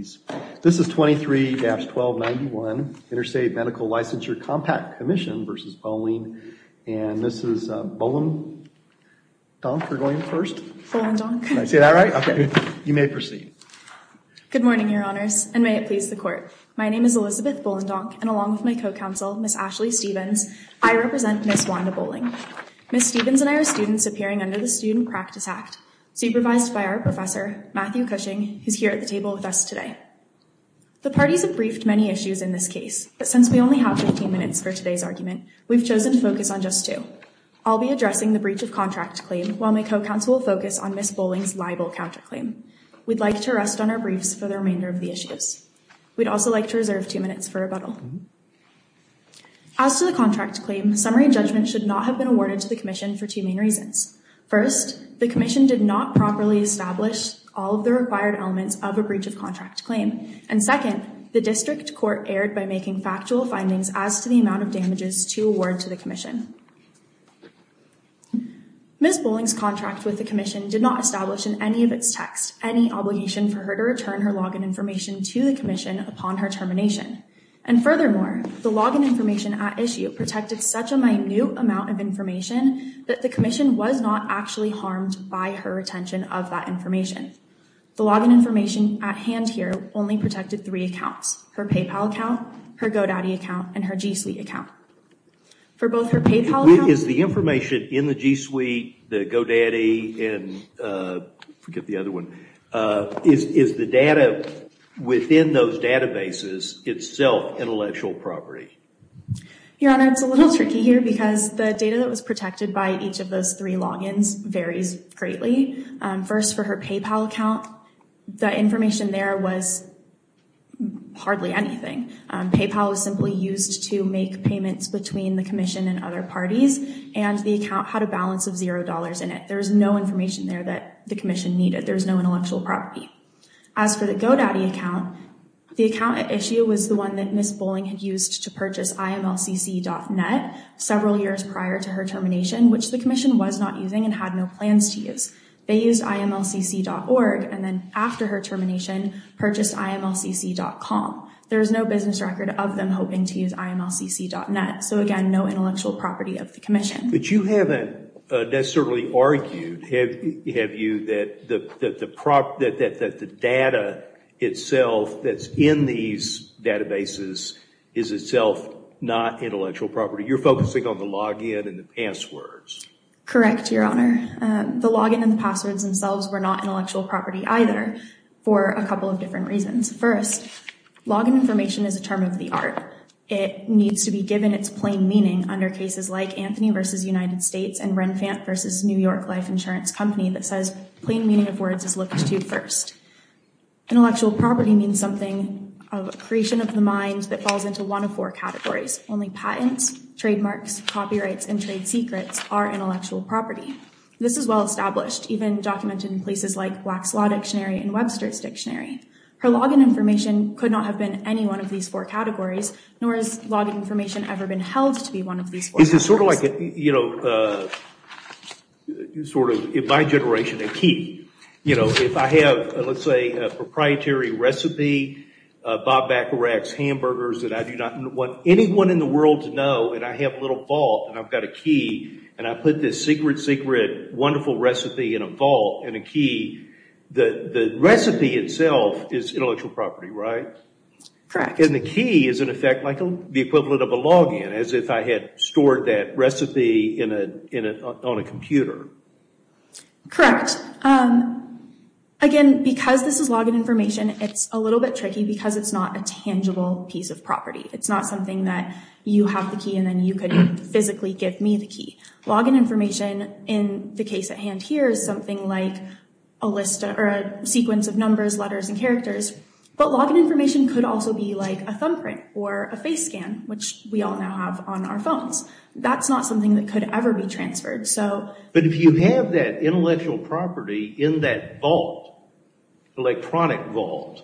Police. This is 23-1291, Interstate Medical Licensure Compact Commission v. Bowling, and this is Bolendonk, you're going first? Bolendonk. Did I say that right? Okay. You may proceed. Good morning, Your Honors, and may it please the Court. My name is Elizabeth Bolendonk, and along with my co-counsel, Ms. Ashley Stephens, I represent Ms. Wanda Boling. Ms. Stephens and I are students appearing under the Student Practice Act, supervised by our professor, Matthew Cushing, who's here at the table with us today. The parties have briefed many issues in this case, but since we only have 15 minutes for today's argument, we've chosen to focus on just two. I'll be addressing the breach of contract claim, while my co-counsel will focus on Ms. Boling's libel counterclaim. We'd like to rest on our briefs for the remainder of the issues. We'd also like to reserve two minutes for rebuttal. As to the contract claim, summary judgment should not have been awarded to the Commission for two main reasons. First, the Commission did not properly establish all of the required elements of a breach of contract claim. And second, the District Court erred by making factual findings as to the amount of damages to award to the Commission. Ms. Boling's contract with the Commission did not establish in any of its text any obligation for her to return her login information to the Commission upon her termination. And furthermore, the login information at issue protected such a minute amount of information that the Commission was not actually harmed by her retention of that information. The login information at hand here only protected three accounts, her PayPal account, her GoDaddy account, and her G Suite account. For both her PayPal account... Is the information in the G Suite, the GoDaddy, and forget the other one, is the data within those databases itself intellectual property? Your Honor, it's a little tricky here because the data that was protected by each of those three logins varies greatly. First, for her PayPal account, the information there was hardly anything. PayPal was simply used to make payments between the Commission and other parties, and the account had a balance of zero dollars in it. There's no information there that the Commission needed. There's no intellectual property. As for the GoDaddy account, the account at issue was the purchase IMLCC.net several years prior to her termination, which the Commission was not using and had no plans to use. They used IMLCC.org, and then after her termination purchased IMLCC.com. There is no business record of them hoping to use IMLCC.net. So again, no intellectual property of the Commission. But you haven't necessarily argued, have you, that the data itself that's in these databases is itself not intellectual property? You're focusing on the login and the passwords. Correct, Your Honor. The login and the passwords themselves were not intellectual property either for a couple of different reasons. First, login information is a term of the art. It needs to be given its plain meaning under cases like Anthony v. United States and Renfant v. New York Life Insurance Company that says plain meaning of words is looked to first. Intellectual property means something of a creation of the mind that falls into one of four categories. Only patents, trademarks, copyrights, and trade secrets are intellectual property. This is well established, even documented in places like Black's Law Dictionary and Webster's Dictionary. Her login information could not have been any one of these four categories, nor has login information ever been held to be one of these four. Is it sort of like, you know, sort of, in my generation, a key. You know, if I have, let's say, a proprietary recipe, Bob Bacarach's hamburgers that I do not want anyone in the world to know, and I have a little vault, and I've got a key, and I put this secret, secret, wonderful recipe in a vault and a key, the recipe itself is intellectual property, right? Correct. And the key is, in effect, like the equivalent of a login, as if I had stored that recipe on a computer. Correct. Again, because this is login information, it's a little bit tricky because it's not a tangible piece of property. It's not something that you have the key, and then you could physically give me the key. Login information, in the case at hand here, is something like a list or a sequence of numbers, letters, and characters, but login information could also be a thumbprint or a face scan, which we all now have on our phones. That's not something that could ever be transferred. But if you have that intellectual property in that vault, electronic vault,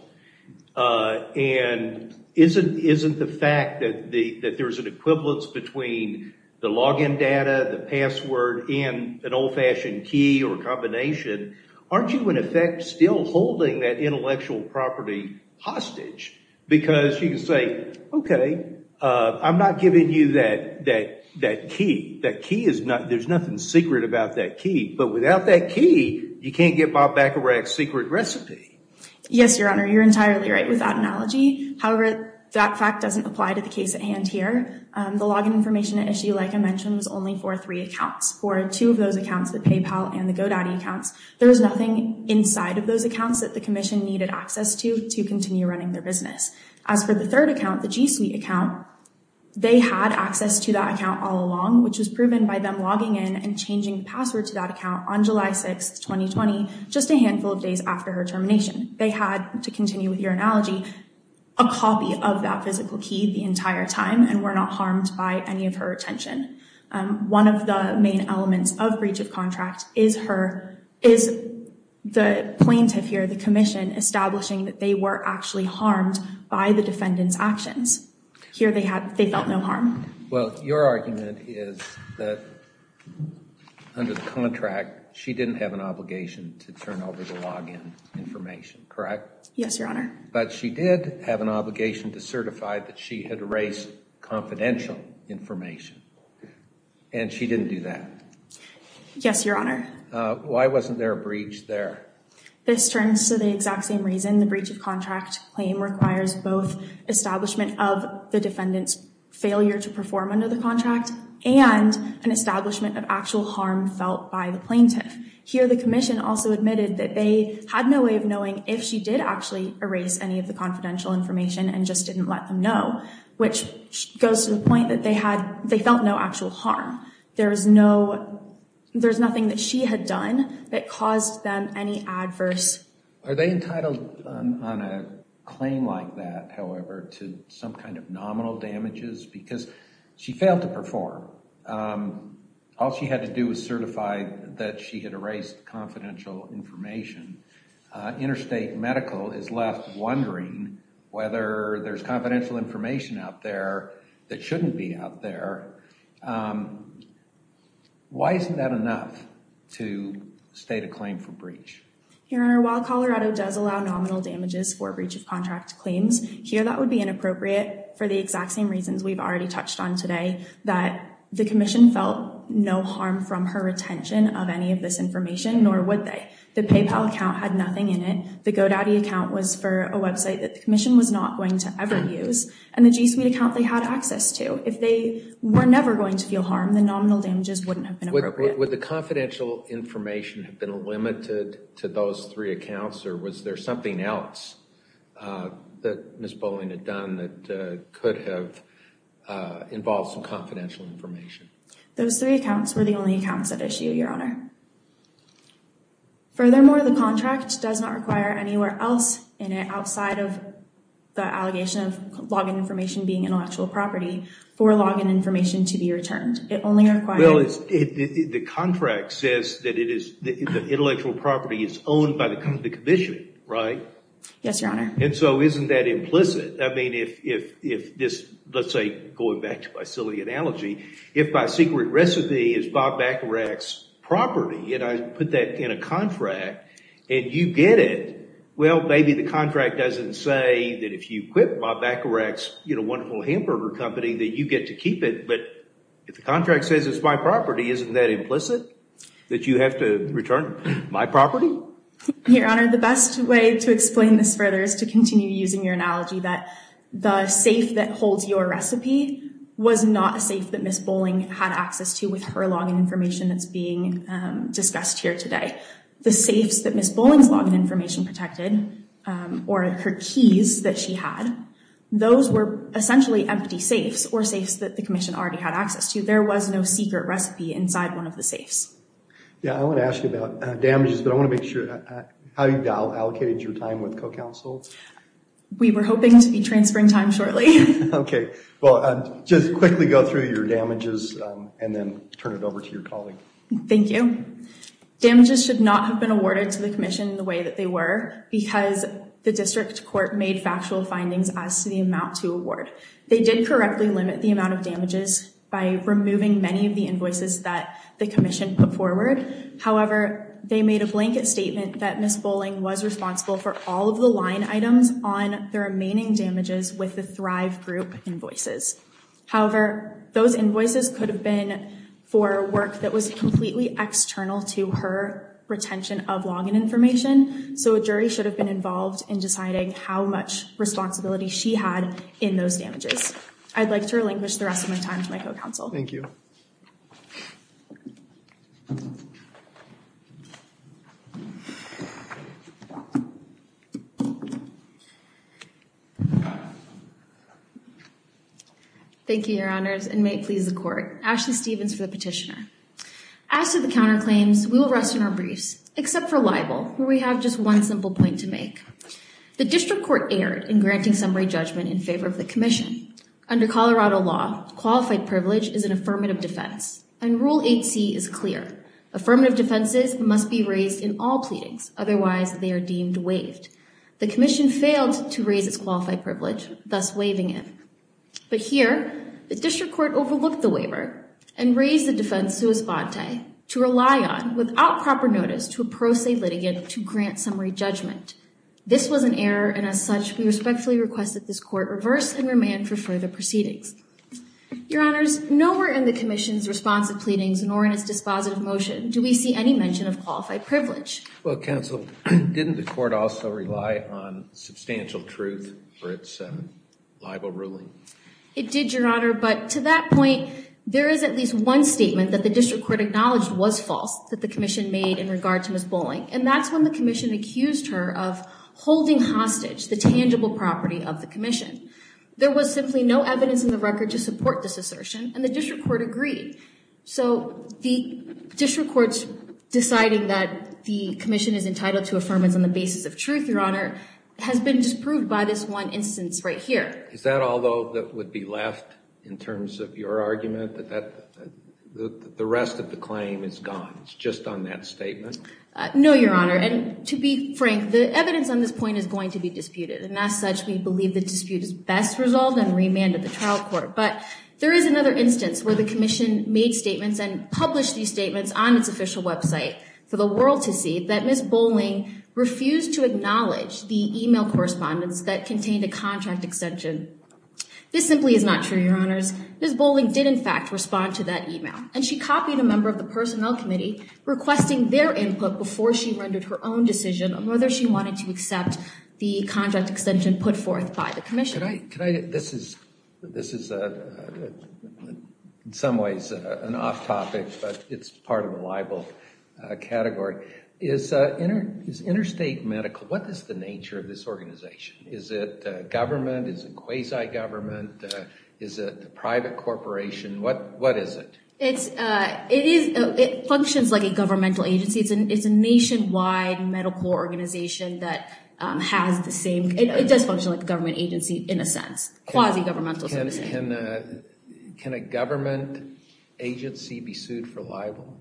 and isn't the fact that there's an equivalence between the login data, the password, and an old-fashioned key or combination, aren't you, in effect, still holding that intellectual property hostage? Because you can say, okay, I'm not giving you that key. There's nothing secret about that key, but without that key, you can't get Bob Baccarat's secret recipe. Yes, Your Honor. You're entirely right with that analogy. However, that fact doesn't apply to the case at hand here. The login information issue, like I mentioned, was only for three accounts. For two of those accounts, the PayPal and the GoDaddy accounts, there was nothing inside of those accounts that the Commission needed access to, to continue running their business. As for the third account, the G Suite account, they had access to that account all along, which was proven by them logging in and changing the password to that account on July 6, 2020, just a handful of days after her termination. They had, to continue with your analogy, a copy of that physical key the entire time and were not harmed by any of her attention. One of the main elements of breach of contract is the plaintiff here, the Commission, establishing that they were actually harmed by the defendant's actions. Here, they felt no harm. Well, your argument is that under the contract, she didn't have an obligation to turn over the login information, correct? Yes, Your Honor. But she did have an obligation to certify that she had erased confidential information, and she didn't do that. Yes, Your Honor. Why wasn't there a breach there? This turns to the exact same reason. The breach of contract claim requires both establishment of the defendant's failure to perform under the contract and an establishment of actual harm felt by the plaintiff. Here, the Commission also admitted that they had no way of knowing if she did actually erase any of the confidential information and just didn't let them know, which goes to the point that they had, they felt no actual harm. There was no, there's nothing that she had done that caused them any adverse. Are they entitled on a claim like that, however, to some kind of nominal damages because she failed to perform? All she had to do was certify that she had erased confidential information. Interstate Medical is left wondering whether there's confidential information out there that shouldn't be out there. Why isn't that enough to state a claim for breach? Your Honor, while Colorado does allow nominal damages for breach of contract claims, here that would be inappropriate for the exact same reasons we've already touched on today, that the Commission felt no harm from her retention of any of this information, nor would they. The PayPal account had nothing in it, the GoDaddy account was for a website that the Commission was not going to ever use, and the G Suite account they had access to. If they were never going to feel harm, the nominal damages wouldn't have been appropriate. Would the confidential information have been limited to those three accounts or was there something else that Ms. Bowling had done that could have involved some confidential information? Those three accounts were the only accounts that issue, Your Honor. Furthermore, the contract does not require anywhere else in it outside of the allegation of login information being intellectual property for login information to be returned. It only requires... Well, the contract says that the intellectual property is owned by the Commission, right? Yes, Your Honor. And so isn't that implicit? I mean, if this, let's say, going back to my silly analogy, if my secret recipe is Bob Bacharach's property and I put that in a contract and you get it, well, maybe the contract doesn't say that if you quit Bob Bacharach's wonderful hamburger company that you get to keep it, but if the contract says it's my property, isn't that implicit? That you have to return my property? Your Honor, the best way to explain this further is to continue using your analogy that the safe that holds your recipe was not a safe that Ms. Bowling had access to with her login information that's being discussed here today. The safes that Ms. Bowling's login information protected, or her keys that she had, those were essentially empty safes or safes that the Commission already had access to. There was no secret recipe inside one of the safes. Yeah, I want to ask you about damages, but I want to make sure, how you allocated your time with co-counsel. We were hoping to be transferring time shortly. Okay, well, just quickly go through your damages and then turn it over to your colleague. Thank you. Damages should not have been awarded to the Commission the way that they were because the District Court made factual findings as to the amount to award. They did correctly limit the amount of damages by removing many of the invoices that the Commission put forward. However, they made a blanket statement that Ms. Bowling was responsible for all of the line items on the remaining damages with the Thrive Group invoices. However, those invoices could have been for work that was completely external to her retention of login information, so a jury should have been involved in deciding how much responsibility she had in those damages. I'd like to relinquish the rest of my time to my co-counsel. Thank you. Thank you, Your Honors, and may it please the Court. Ashley Stevens for the Petitioner. As to the counterclaims, we will rest in our briefs, except for libel, where we have just one simple point to make. The District Court erred in granting summary judgment in favor of an affirmative defense, and Rule 8c is clear. Affirmative defenses must be raised in all pleadings, otherwise they are deemed waived. The Commission failed to raise its qualified privilege, thus waiving it. But here, the District Court overlooked the waiver and raised the defense sua sponte, to rely on, without proper notice, to a pro se litigant to grant summary judgment. This was an error, and as such, we respectfully request that this Court reverse and remand for in the Commission's response of pleadings, nor in its dispositive motion, do we see any mention of qualified privilege. Well, Counsel, didn't the Court also rely on substantial truth for its libel ruling? It did, Your Honor, but to that point, there is at least one statement that the District Court acknowledged was false, that the Commission made in regard to Ms. Bolling, and that's when the Commission accused her of holding hostage the tangible property of the Commission. There was simply no evidence in the record to support this assertion, and the District Court agreed. So the District Court's deciding that the Commission is entitled to affirmance on the basis of truth, Your Honor, has been disproved by this one instance right here. Is that all, though, that would be left in terms of your argument, that the rest of the claim is gone? It's just on that statement? No, Your Honor, and to be frank, the evidence on this point is going to be disputed, and as such, we believe the dispute is best resolved and remanded the trial court, but there is another instance where the Commission made statements and published these statements on its official website for the world to see that Ms. Bolling refused to acknowledge the email correspondence that contained a contract extension. This simply is not true, Your Honors. Ms. Bolling did, in fact, respond to that email, and she copied a member of the Personnel Committee requesting their input before she rendered her own decision on whether she wanted to accept the contract extension put forth by the Commission. This is in some ways an off-topic, but it's part of a liable category. Is Interstate Medical, what is the nature of this organization? Is it government? Is it quasi-government? Is it a private corporation? What is it? It functions like a governmental agency. It's a nationwide medical organization that has the same, it does function like a government agency in a sense, quasi-governmental. Can a government agency be sued for liable?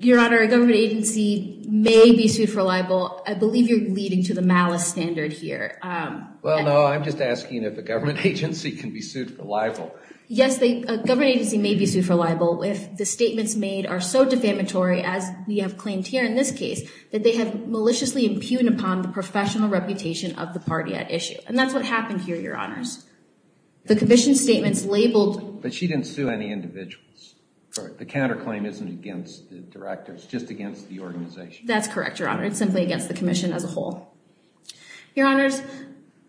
Your Honor, a government agency may be sued for liable. I believe you're leading to the malice standard here. Well, no, I'm just asking if a government agency can be sued for liable. The statements made are so defamatory, as we have claimed here in this case, that they have maliciously impugned upon the professional reputation of the party at issue. And that's what happened here, Your Honors. The Commission's statements labeled... But she didn't sue any individuals. The counterclaim isn't against the directors, just against the organization. That's correct, Your Honor. It's simply against the Commission as a whole. Your Honors,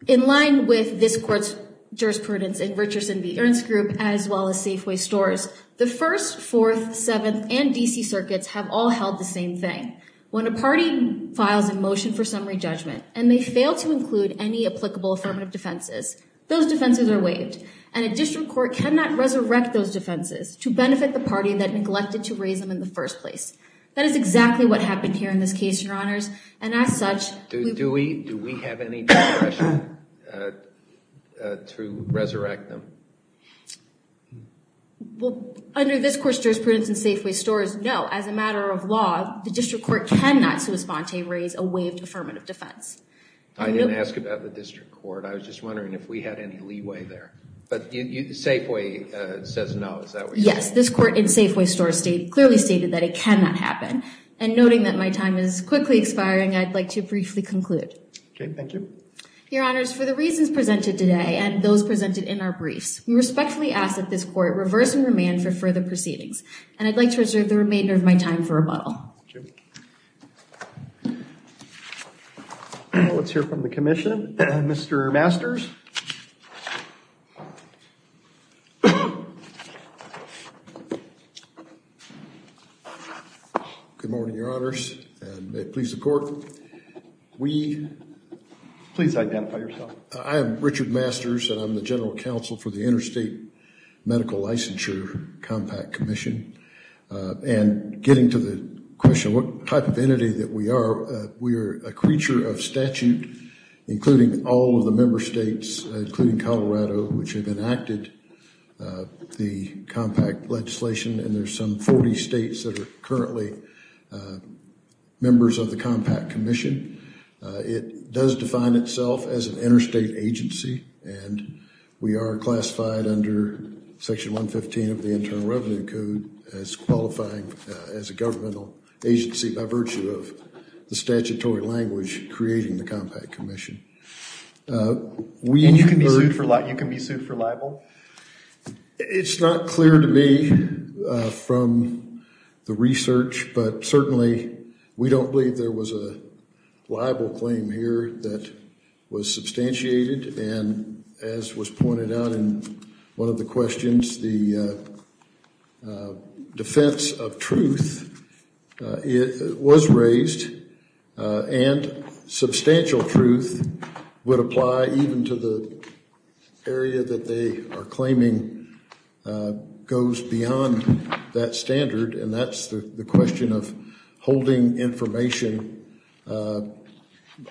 in line with this Court's jurisprudence in Richardson v. Ernst Group, as well as Safeway Stores, the First, Fourth, Seventh, and D.C. circuits have all held the same thing. When a party files a motion for summary judgment, and they fail to include any applicable affirmative defenses, those defenses are waived. And a district court cannot resurrect those defenses to benefit the party that neglected to raise them in the first place. That is exactly what happened here in this case, Your Honors. And as such... Do we have any discretion to resurrect them? Well, under this Court's jurisprudence in Safeway Stores, no. As a matter of law, the district court cannot sui sponte raise a waived affirmative defense. I didn't ask about the district court. I was just wondering if we had any leeway there. But Safeway says no. Is that what you're saying? Yes. This Court in Safeway Stores clearly stated that it cannot happen. And noting that my time is quickly expiring, I'd like to briefly conclude. Okay. Thank you. Your Honors, for the reasons presented today and those presented in our briefs, we respectfully ask that this Court reverse and remand for further proceedings. And I'd like to reserve the remainder of my time for rebuttal. Let's hear from the Commission. Mr. Masters? Good morning, Your Honors. And may it please the Court, we... Please identify yourself. I am Richard Masters, and I'm the General Counsel for the Interstate Medical Licensure Compact Commission. And getting to the question, what type of entity that we are, we are a creature of statute, including all of the member states, including Colorado, which have enacted the compact legislation. And there's some 40 states that are currently members of the Compact Commission. It does define itself as an interstate agency. And we are classified under Section 115 of the Internal Revenue Code as qualifying as a governmental agency by virtue of the statutory language creating the Compact Commission. And you can be sued for libel? It's not clear to me from the research, but certainly we don't believe there was a libel claim here that was substantiated. And as was pointed out in one of the questions, the defense of truth was raised and substantial truth would apply even to the area that they are claiming goes beyond that standard. And that's the question of holding information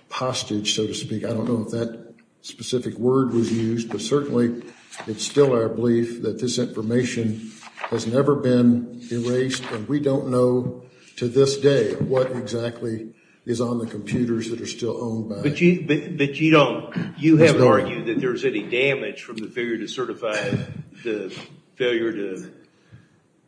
postage, so to speak. I don't know if that specific word was used, but certainly it's still our belief that this information has never been erased. And we don't know to this day what exactly is on the computers that are still owned by them. But you don't, you haven't argued that there's any damage from the failure to certify, the failure to,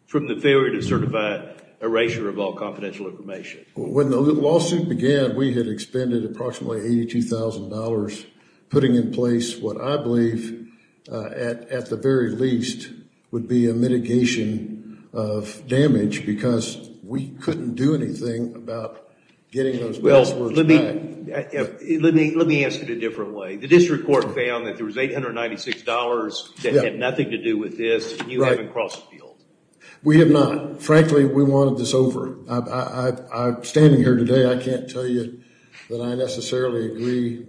from the failure to certify erasure of all confidential information? When the lawsuit began, we had expended approximately $82,000 putting in place what I believe, at the very least, would be a mitigation of damage because we couldn't do anything about getting those passwords back. Let me ask it a different way. The district court found that there was $896 that had nothing to do with this and you haven't crossed the field. We have not. Frankly, we wanted this over. I'm standing here today, I can't tell you that I necessarily agree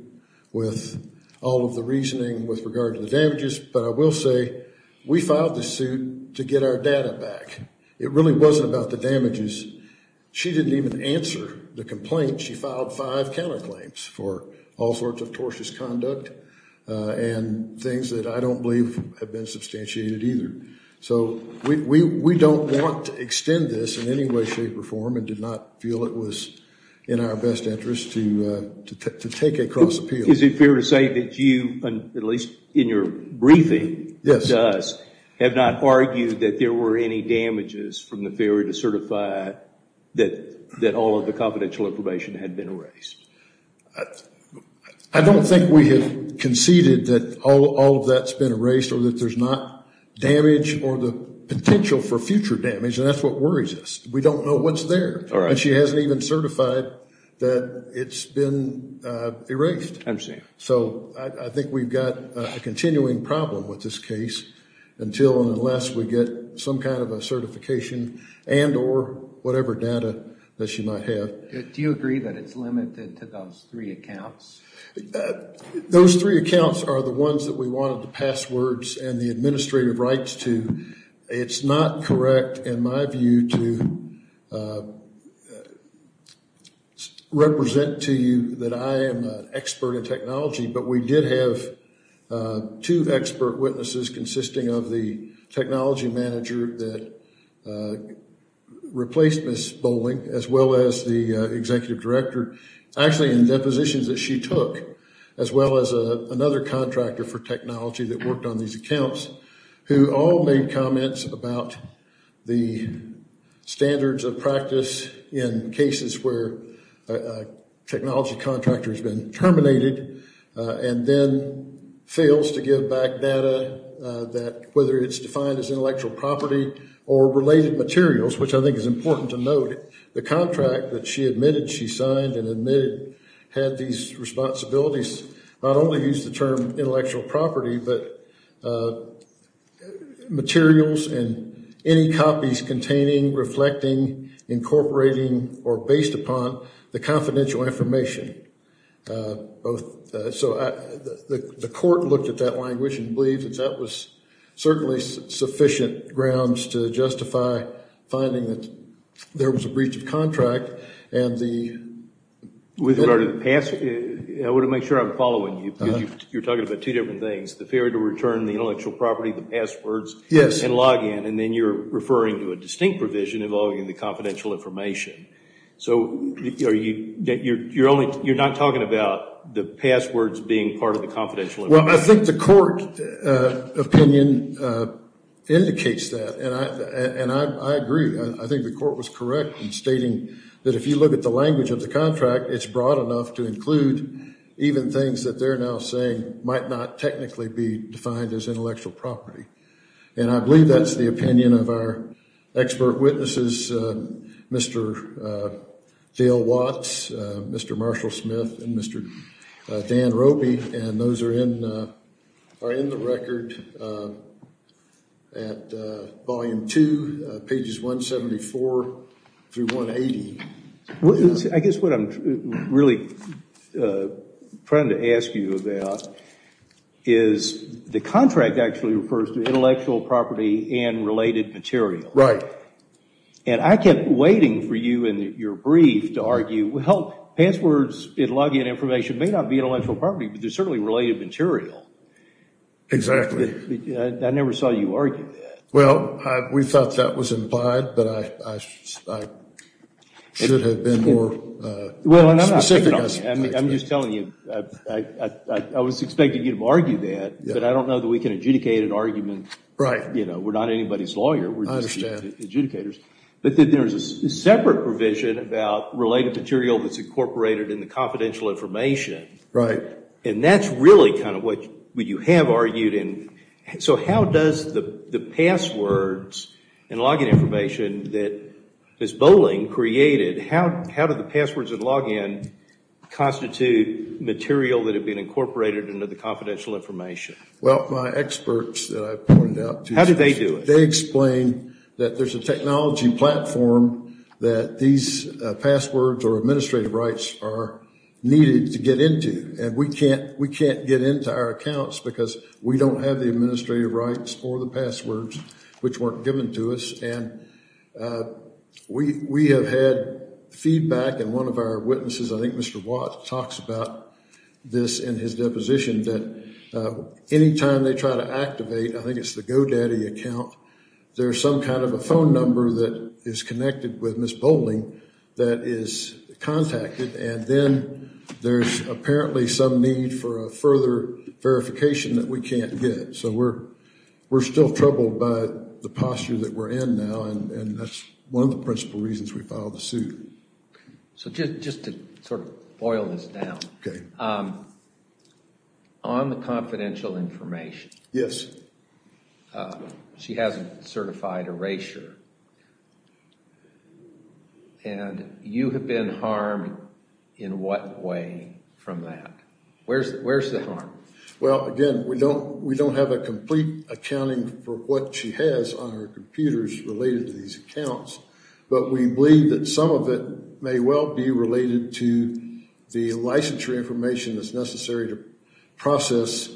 with all of the reasoning with regard to the damages, but I will say we filed this suit to get our data back. It really wasn't about the damages. She didn't even answer the complaint. She filed five counterclaims for all sorts of tortious conduct and things that I don't believe have been substantiated either. So we don't want to extend this in any way, shape, or form and did not feel it was in our best interest to take a cross appeal. Is it fair to say that you, at least in your briefing, have not argued that there were any damages from the theory to certify that all of the confidential information had been erased? I don't think we have conceded that all of that's been erased or that there's not damage or the potential for future damage and that's what worries us. We don't know what's there and she hasn't even certified that it's been erased. So I think we've got a continuing problem with this case until and unless we get some kind of a certification and or whatever data that she might have. Do you agree that it's limited to those three accounts? Those three accounts are the ones that we wanted the passwords and the administrative rights to. It's not correct in my view to represent to you that I am an expert in technology, but we did have two expert witnesses consisting of the technology manager that replaced Ms. Bolling, as well as the executive director, actually in depositions that she took, as well as another contractor for technology that worked on these accounts, who all made comments about the standards of practice in cases where a technology contractor has been terminated and then fails to give back data that whether it's defined as intellectual property or related materials, which I think is important to note, the contract that she admitted she signed and admitted had these responsibilities, not only use the term intellectual property, but materials and any copies containing, reflecting, incorporating, or based upon the confidential information. So the court looked at that language and believed that that was certainly sufficient grounds to justify finding that there was a breach of contract. And I want to make sure I'm following you because you're talking about two different things, the failure to return the intellectual property, the passwords, and login, and then you're referring to a distinct provision involving the confidential information. So you're not talking about the passwords being part of the confidential information? Well, I think the court opinion indicates that, and I agree. I think the court was correct in stating that if you look at the language of the contract, it's broad enough to include even things that they're now saying might not technically be defined as intellectual property. And I believe that's the opinion of our expert witnesses, Mr. Dale Watts, Mr. Marshall Smith, and Mr. Dan Ropey, and those are in the record at volume two, pages 174 through 180. I guess what I'm really trying to ask you about is the contract actually refers to intellectual property and related material. Right. And I kept waiting for you in your brief to argue, well, passwords and login information may not be intellectual property, but they're certainly related material. Exactly. I never saw you argue that. Well, we thought that was implied, but I should have been more specific. I'm just telling you, I was expecting you to argue that, but I don't know that we can adjudicate an argument. Right. You know, we're not anybody's lawyer, we're just adjudicators. But then there's a separate provision about related material that's incorporated in the confidential information. Right. And that's really kind of what you have argued. So how does the passwords and login information that Ms. Bolling created, how do the passwords and login constitute material that had been incorporated into the confidential information? Well, my experts that I pointed out. How did they do it? They explained that there's a technology platform that these passwords or administrative rights are needed to get into. And we can't get into our accounts because we don't have the administrative rights for the passwords, which weren't given to us. And we have had feedback and one of our witnesses, I think Mr. Watt talks about this in his deposition that anytime they try to activate, I think it's the GoDaddy account, there's some kind of a phone number that is connected with Ms. Bolling that is contacted. And then there's apparently some need for a further verification that we can't get. So we're still troubled by the posture that we're in now. And that's one of the principal reasons we filed the suit. So just to sort of boil this down. Okay. On the confidential information. Yes. She has a certified erasure. And you have been harmed in what way from that? Where's the harm? Well, again, we don't have a complete accounting for what she has on her computers related to these accounts. But we believe that some of it may well be related to the licensure information that's processed,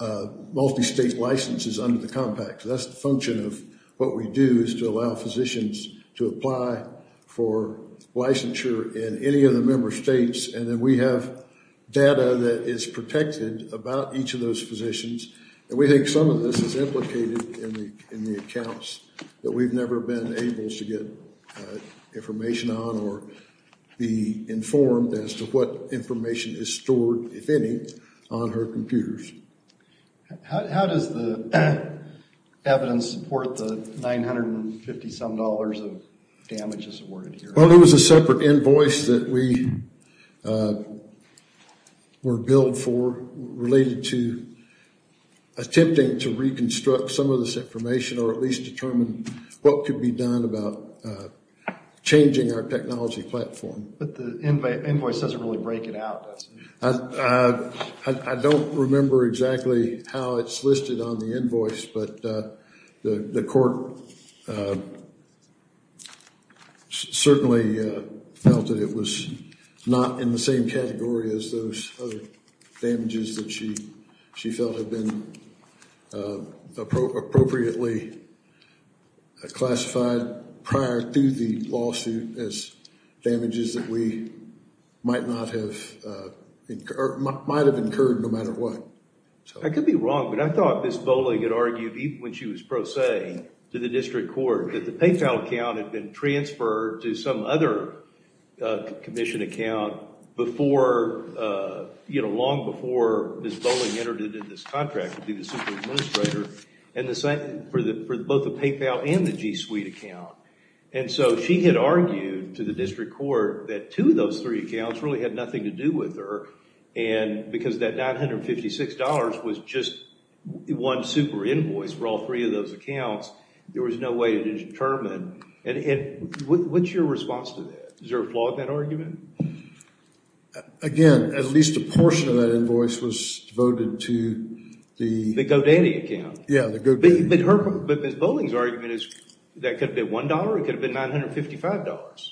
multi-state licenses under the compact. That's the function of what we do is to allow physicians to apply for licensure in any of the member states. And then we have data that is protected about each of those physicians. And we think some of this is implicated in the accounts that we've never been able to get information on or be informed as to what information is stored, if any, on her computers. How does the evidence support the $950 some dollars of damages awarded here? Well, there was a separate invoice that we were billed for related to attempting to reconstruct some of this information or at least determine what could be done about changing our technology platform. But the invoice doesn't really break it out, does it? I don't remember exactly how it's listed on the invoice. But the court certainly felt that it was not in the same category as those other damages that she felt had been appropriately classified prior to the lawsuit as damages that we might not have, might have incurred no matter what. I could be wrong, but I thought Ms. Bolling had argued even when she was pro se to the district court that the PayPal account had been transferred to some other commission account before, you know, long before Ms. Bolling entered into this contract to be the super administrator and the same for both the PayPal and the G Suite account. And so she had argued to the district court that two of those three accounts really had nothing to do with her. And because that $956 was just one super invoice for all three of those accounts, there was no way to determine. And what's your response to that? Is there a flaw in that argument? Again, at least a portion of that invoice was devoted to the... The GoDaddy account. Yeah, the GoDaddy. But Ms. Bolling's argument is that could have been $1, it could have been $955.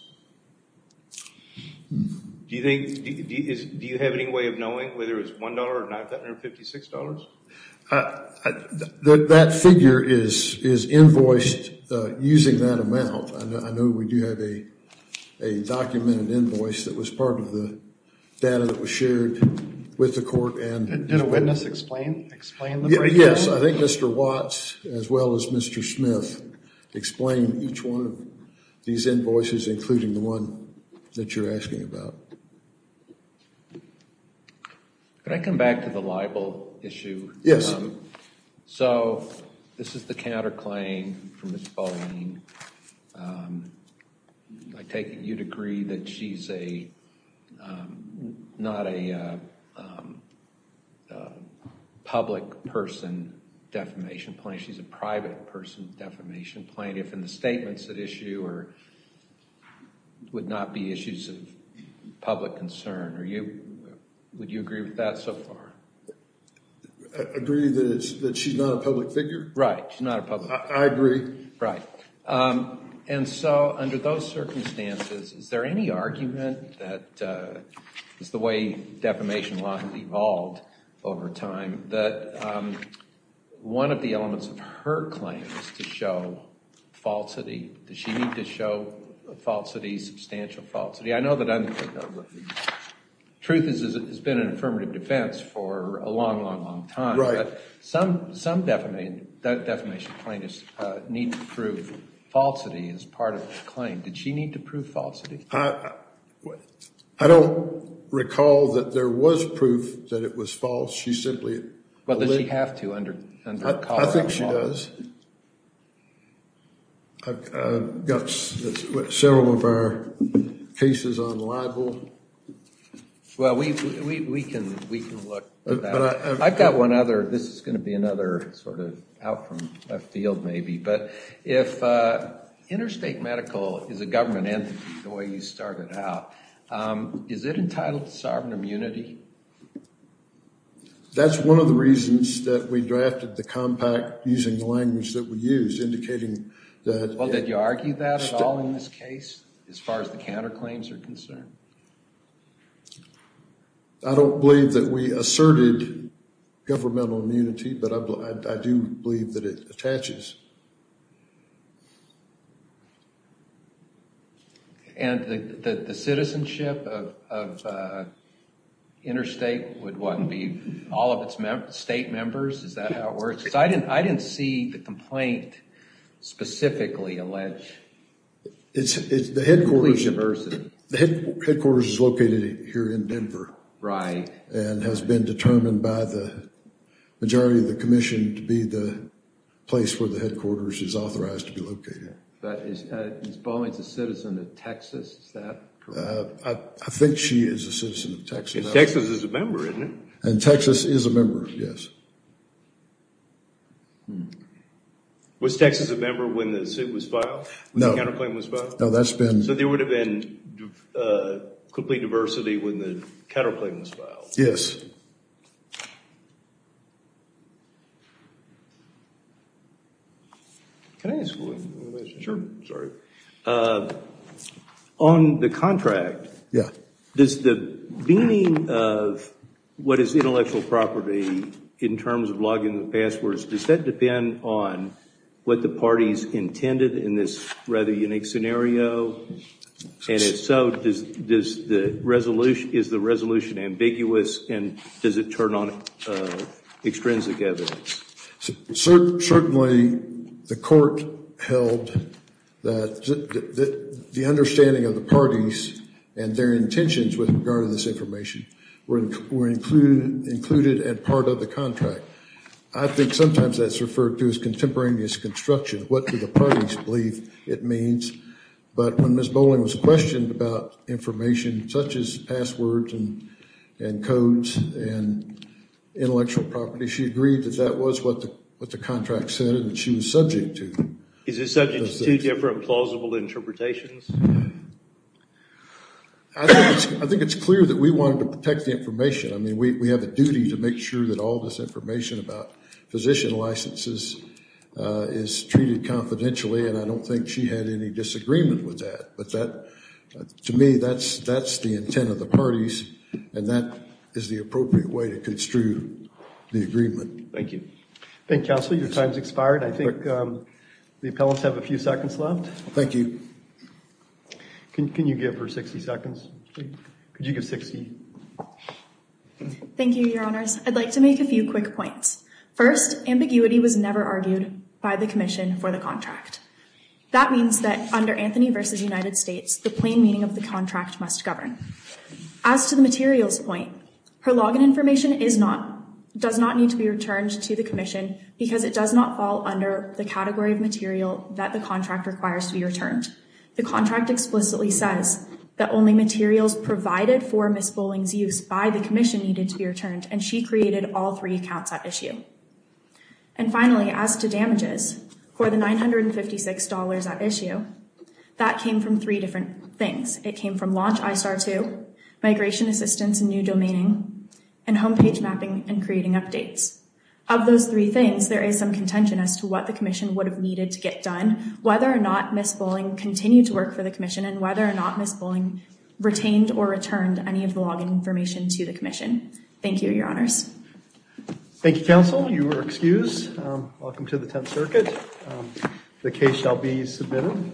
Do you think, do you have any way of knowing whether it's $1 or $956? That figure is invoiced using that amount. I know we do have a documented invoice that was part of the data that was shared with the court and... Did a witness explain the breakdown? Yes, I think Mr. Watts as well as Mr. Smith explained each one of these invoices, including the one that you're asking about. Can I come back to the libel issue? Yes. So this is the counterclaim from Ms. Bolling. You'd agree that she's not a public person defamation plaintiff, she's a private person defamation plaintiff and the statements that issue would not be issues of public concern. Would you agree with that so far? Agree that she's not a public figure? Right, she's not a public figure. I agree. Right. And so under those circumstances, is there any argument that is the way defamation law has evolved over time that one of the elements of her claim is to show falsity? Does she need to show falsity, substantial falsity? I know that truth has been an affirmative defense for a long, long, long time. Right. Some defamation plaintiffs need to prove falsity as part of their claim. Did she need to prove falsity? I don't recall that there was proof that it was false. But does she have to under a call for a fault? I think she does. I've got several of our cases on libel. Well, we can look at that. I've got one other. This is going to be another sort of out from left field maybe. But if interstate medical is a government entity the way you started out, is it entitled to sovereign immunity? That's one of the reasons that we drafted the compact using the language that we use, indicating that... Well, did you argue that at all in this case as far as the counterclaims are concerned? I don't believe that we asserted governmental immunity, but I do believe that it attaches. And the citizenship of interstate would what, be all of its state members? Is that how it works? Because I didn't see the complaint specifically allege... The headquarters is located here in Denver and has been determined by the majority of headquarters is authorized to be located. But is Bollings a citizen of Texas? Is that correct? I think she is a citizen of Texas. And Texas is a member, isn't it? And Texas is a member, yes. Was Texas a member when the suit was filed? No. When the counterclaim was filed? No, that's been... So there would have been complete diversity when the counterclaim was filed? Yes. Can I ask a question? Sure. Sorry. On the contract, does the meaning of what is intellectual property in terms of logging the passwords, does that depend on what the parties intended in this rather unique scenario? And if so, is the resolution ambiguous and does it turn on extrinsic evidence? Certainly, the court held that the understanding of the parties and their intentions with regard to this information were included and part of the contract. I think sometimes that's referred to as contemporaneous construction. What do the parties believe it means? But when Ms. Bollings was questioned about information such as passwords and codes and that was what the contract said and that she was subject to. Is it subject to two different plausible interpretations? I think it's clear that we wanted to protect the information. I mean, we have a duty to make sure that all this information about physician licenses is treated confidentially and I don't think she had any disagreement with that. But to me, that's the intent of the parties and that is the appropriate way to construe the agreement. Thank you. Thank you, counsel. Your time's expired. I think the appellants have a few seconds left. Thank you. Can you give her 60 seconds? Could you give 60? Thank you, your honors. I'd like to make a few quick points. First, ambiguity was never argued by the commission for the contract. That means that under Anthony v. United States, the plain meaning of the contract must govern. As to the materials point, her login information does not need to be returned to the commission because it does not fall under the category of material that the contract requires to be returned. The contract explicitly says that only materials provided for Ms. Bolling's use by the commission needed to be returned and she created all three accounts at issue. And finally, as to damages for the $956 at issue, that came from three different things. It came from launch ISAR 2, migration assistance and new domaining, and homepage mapping and creating updates. Of those three things, there is some contention as to what the commission would have needed to get done, whether or not Ms. Bolling continued to work for the commission and whether or not Ms. Bolling retained or returned any of the login information to the commission. Thank you, your honors. Thank you, counsel. You are excused. Welcome to the Tenth Circuit. The case shall be submitted.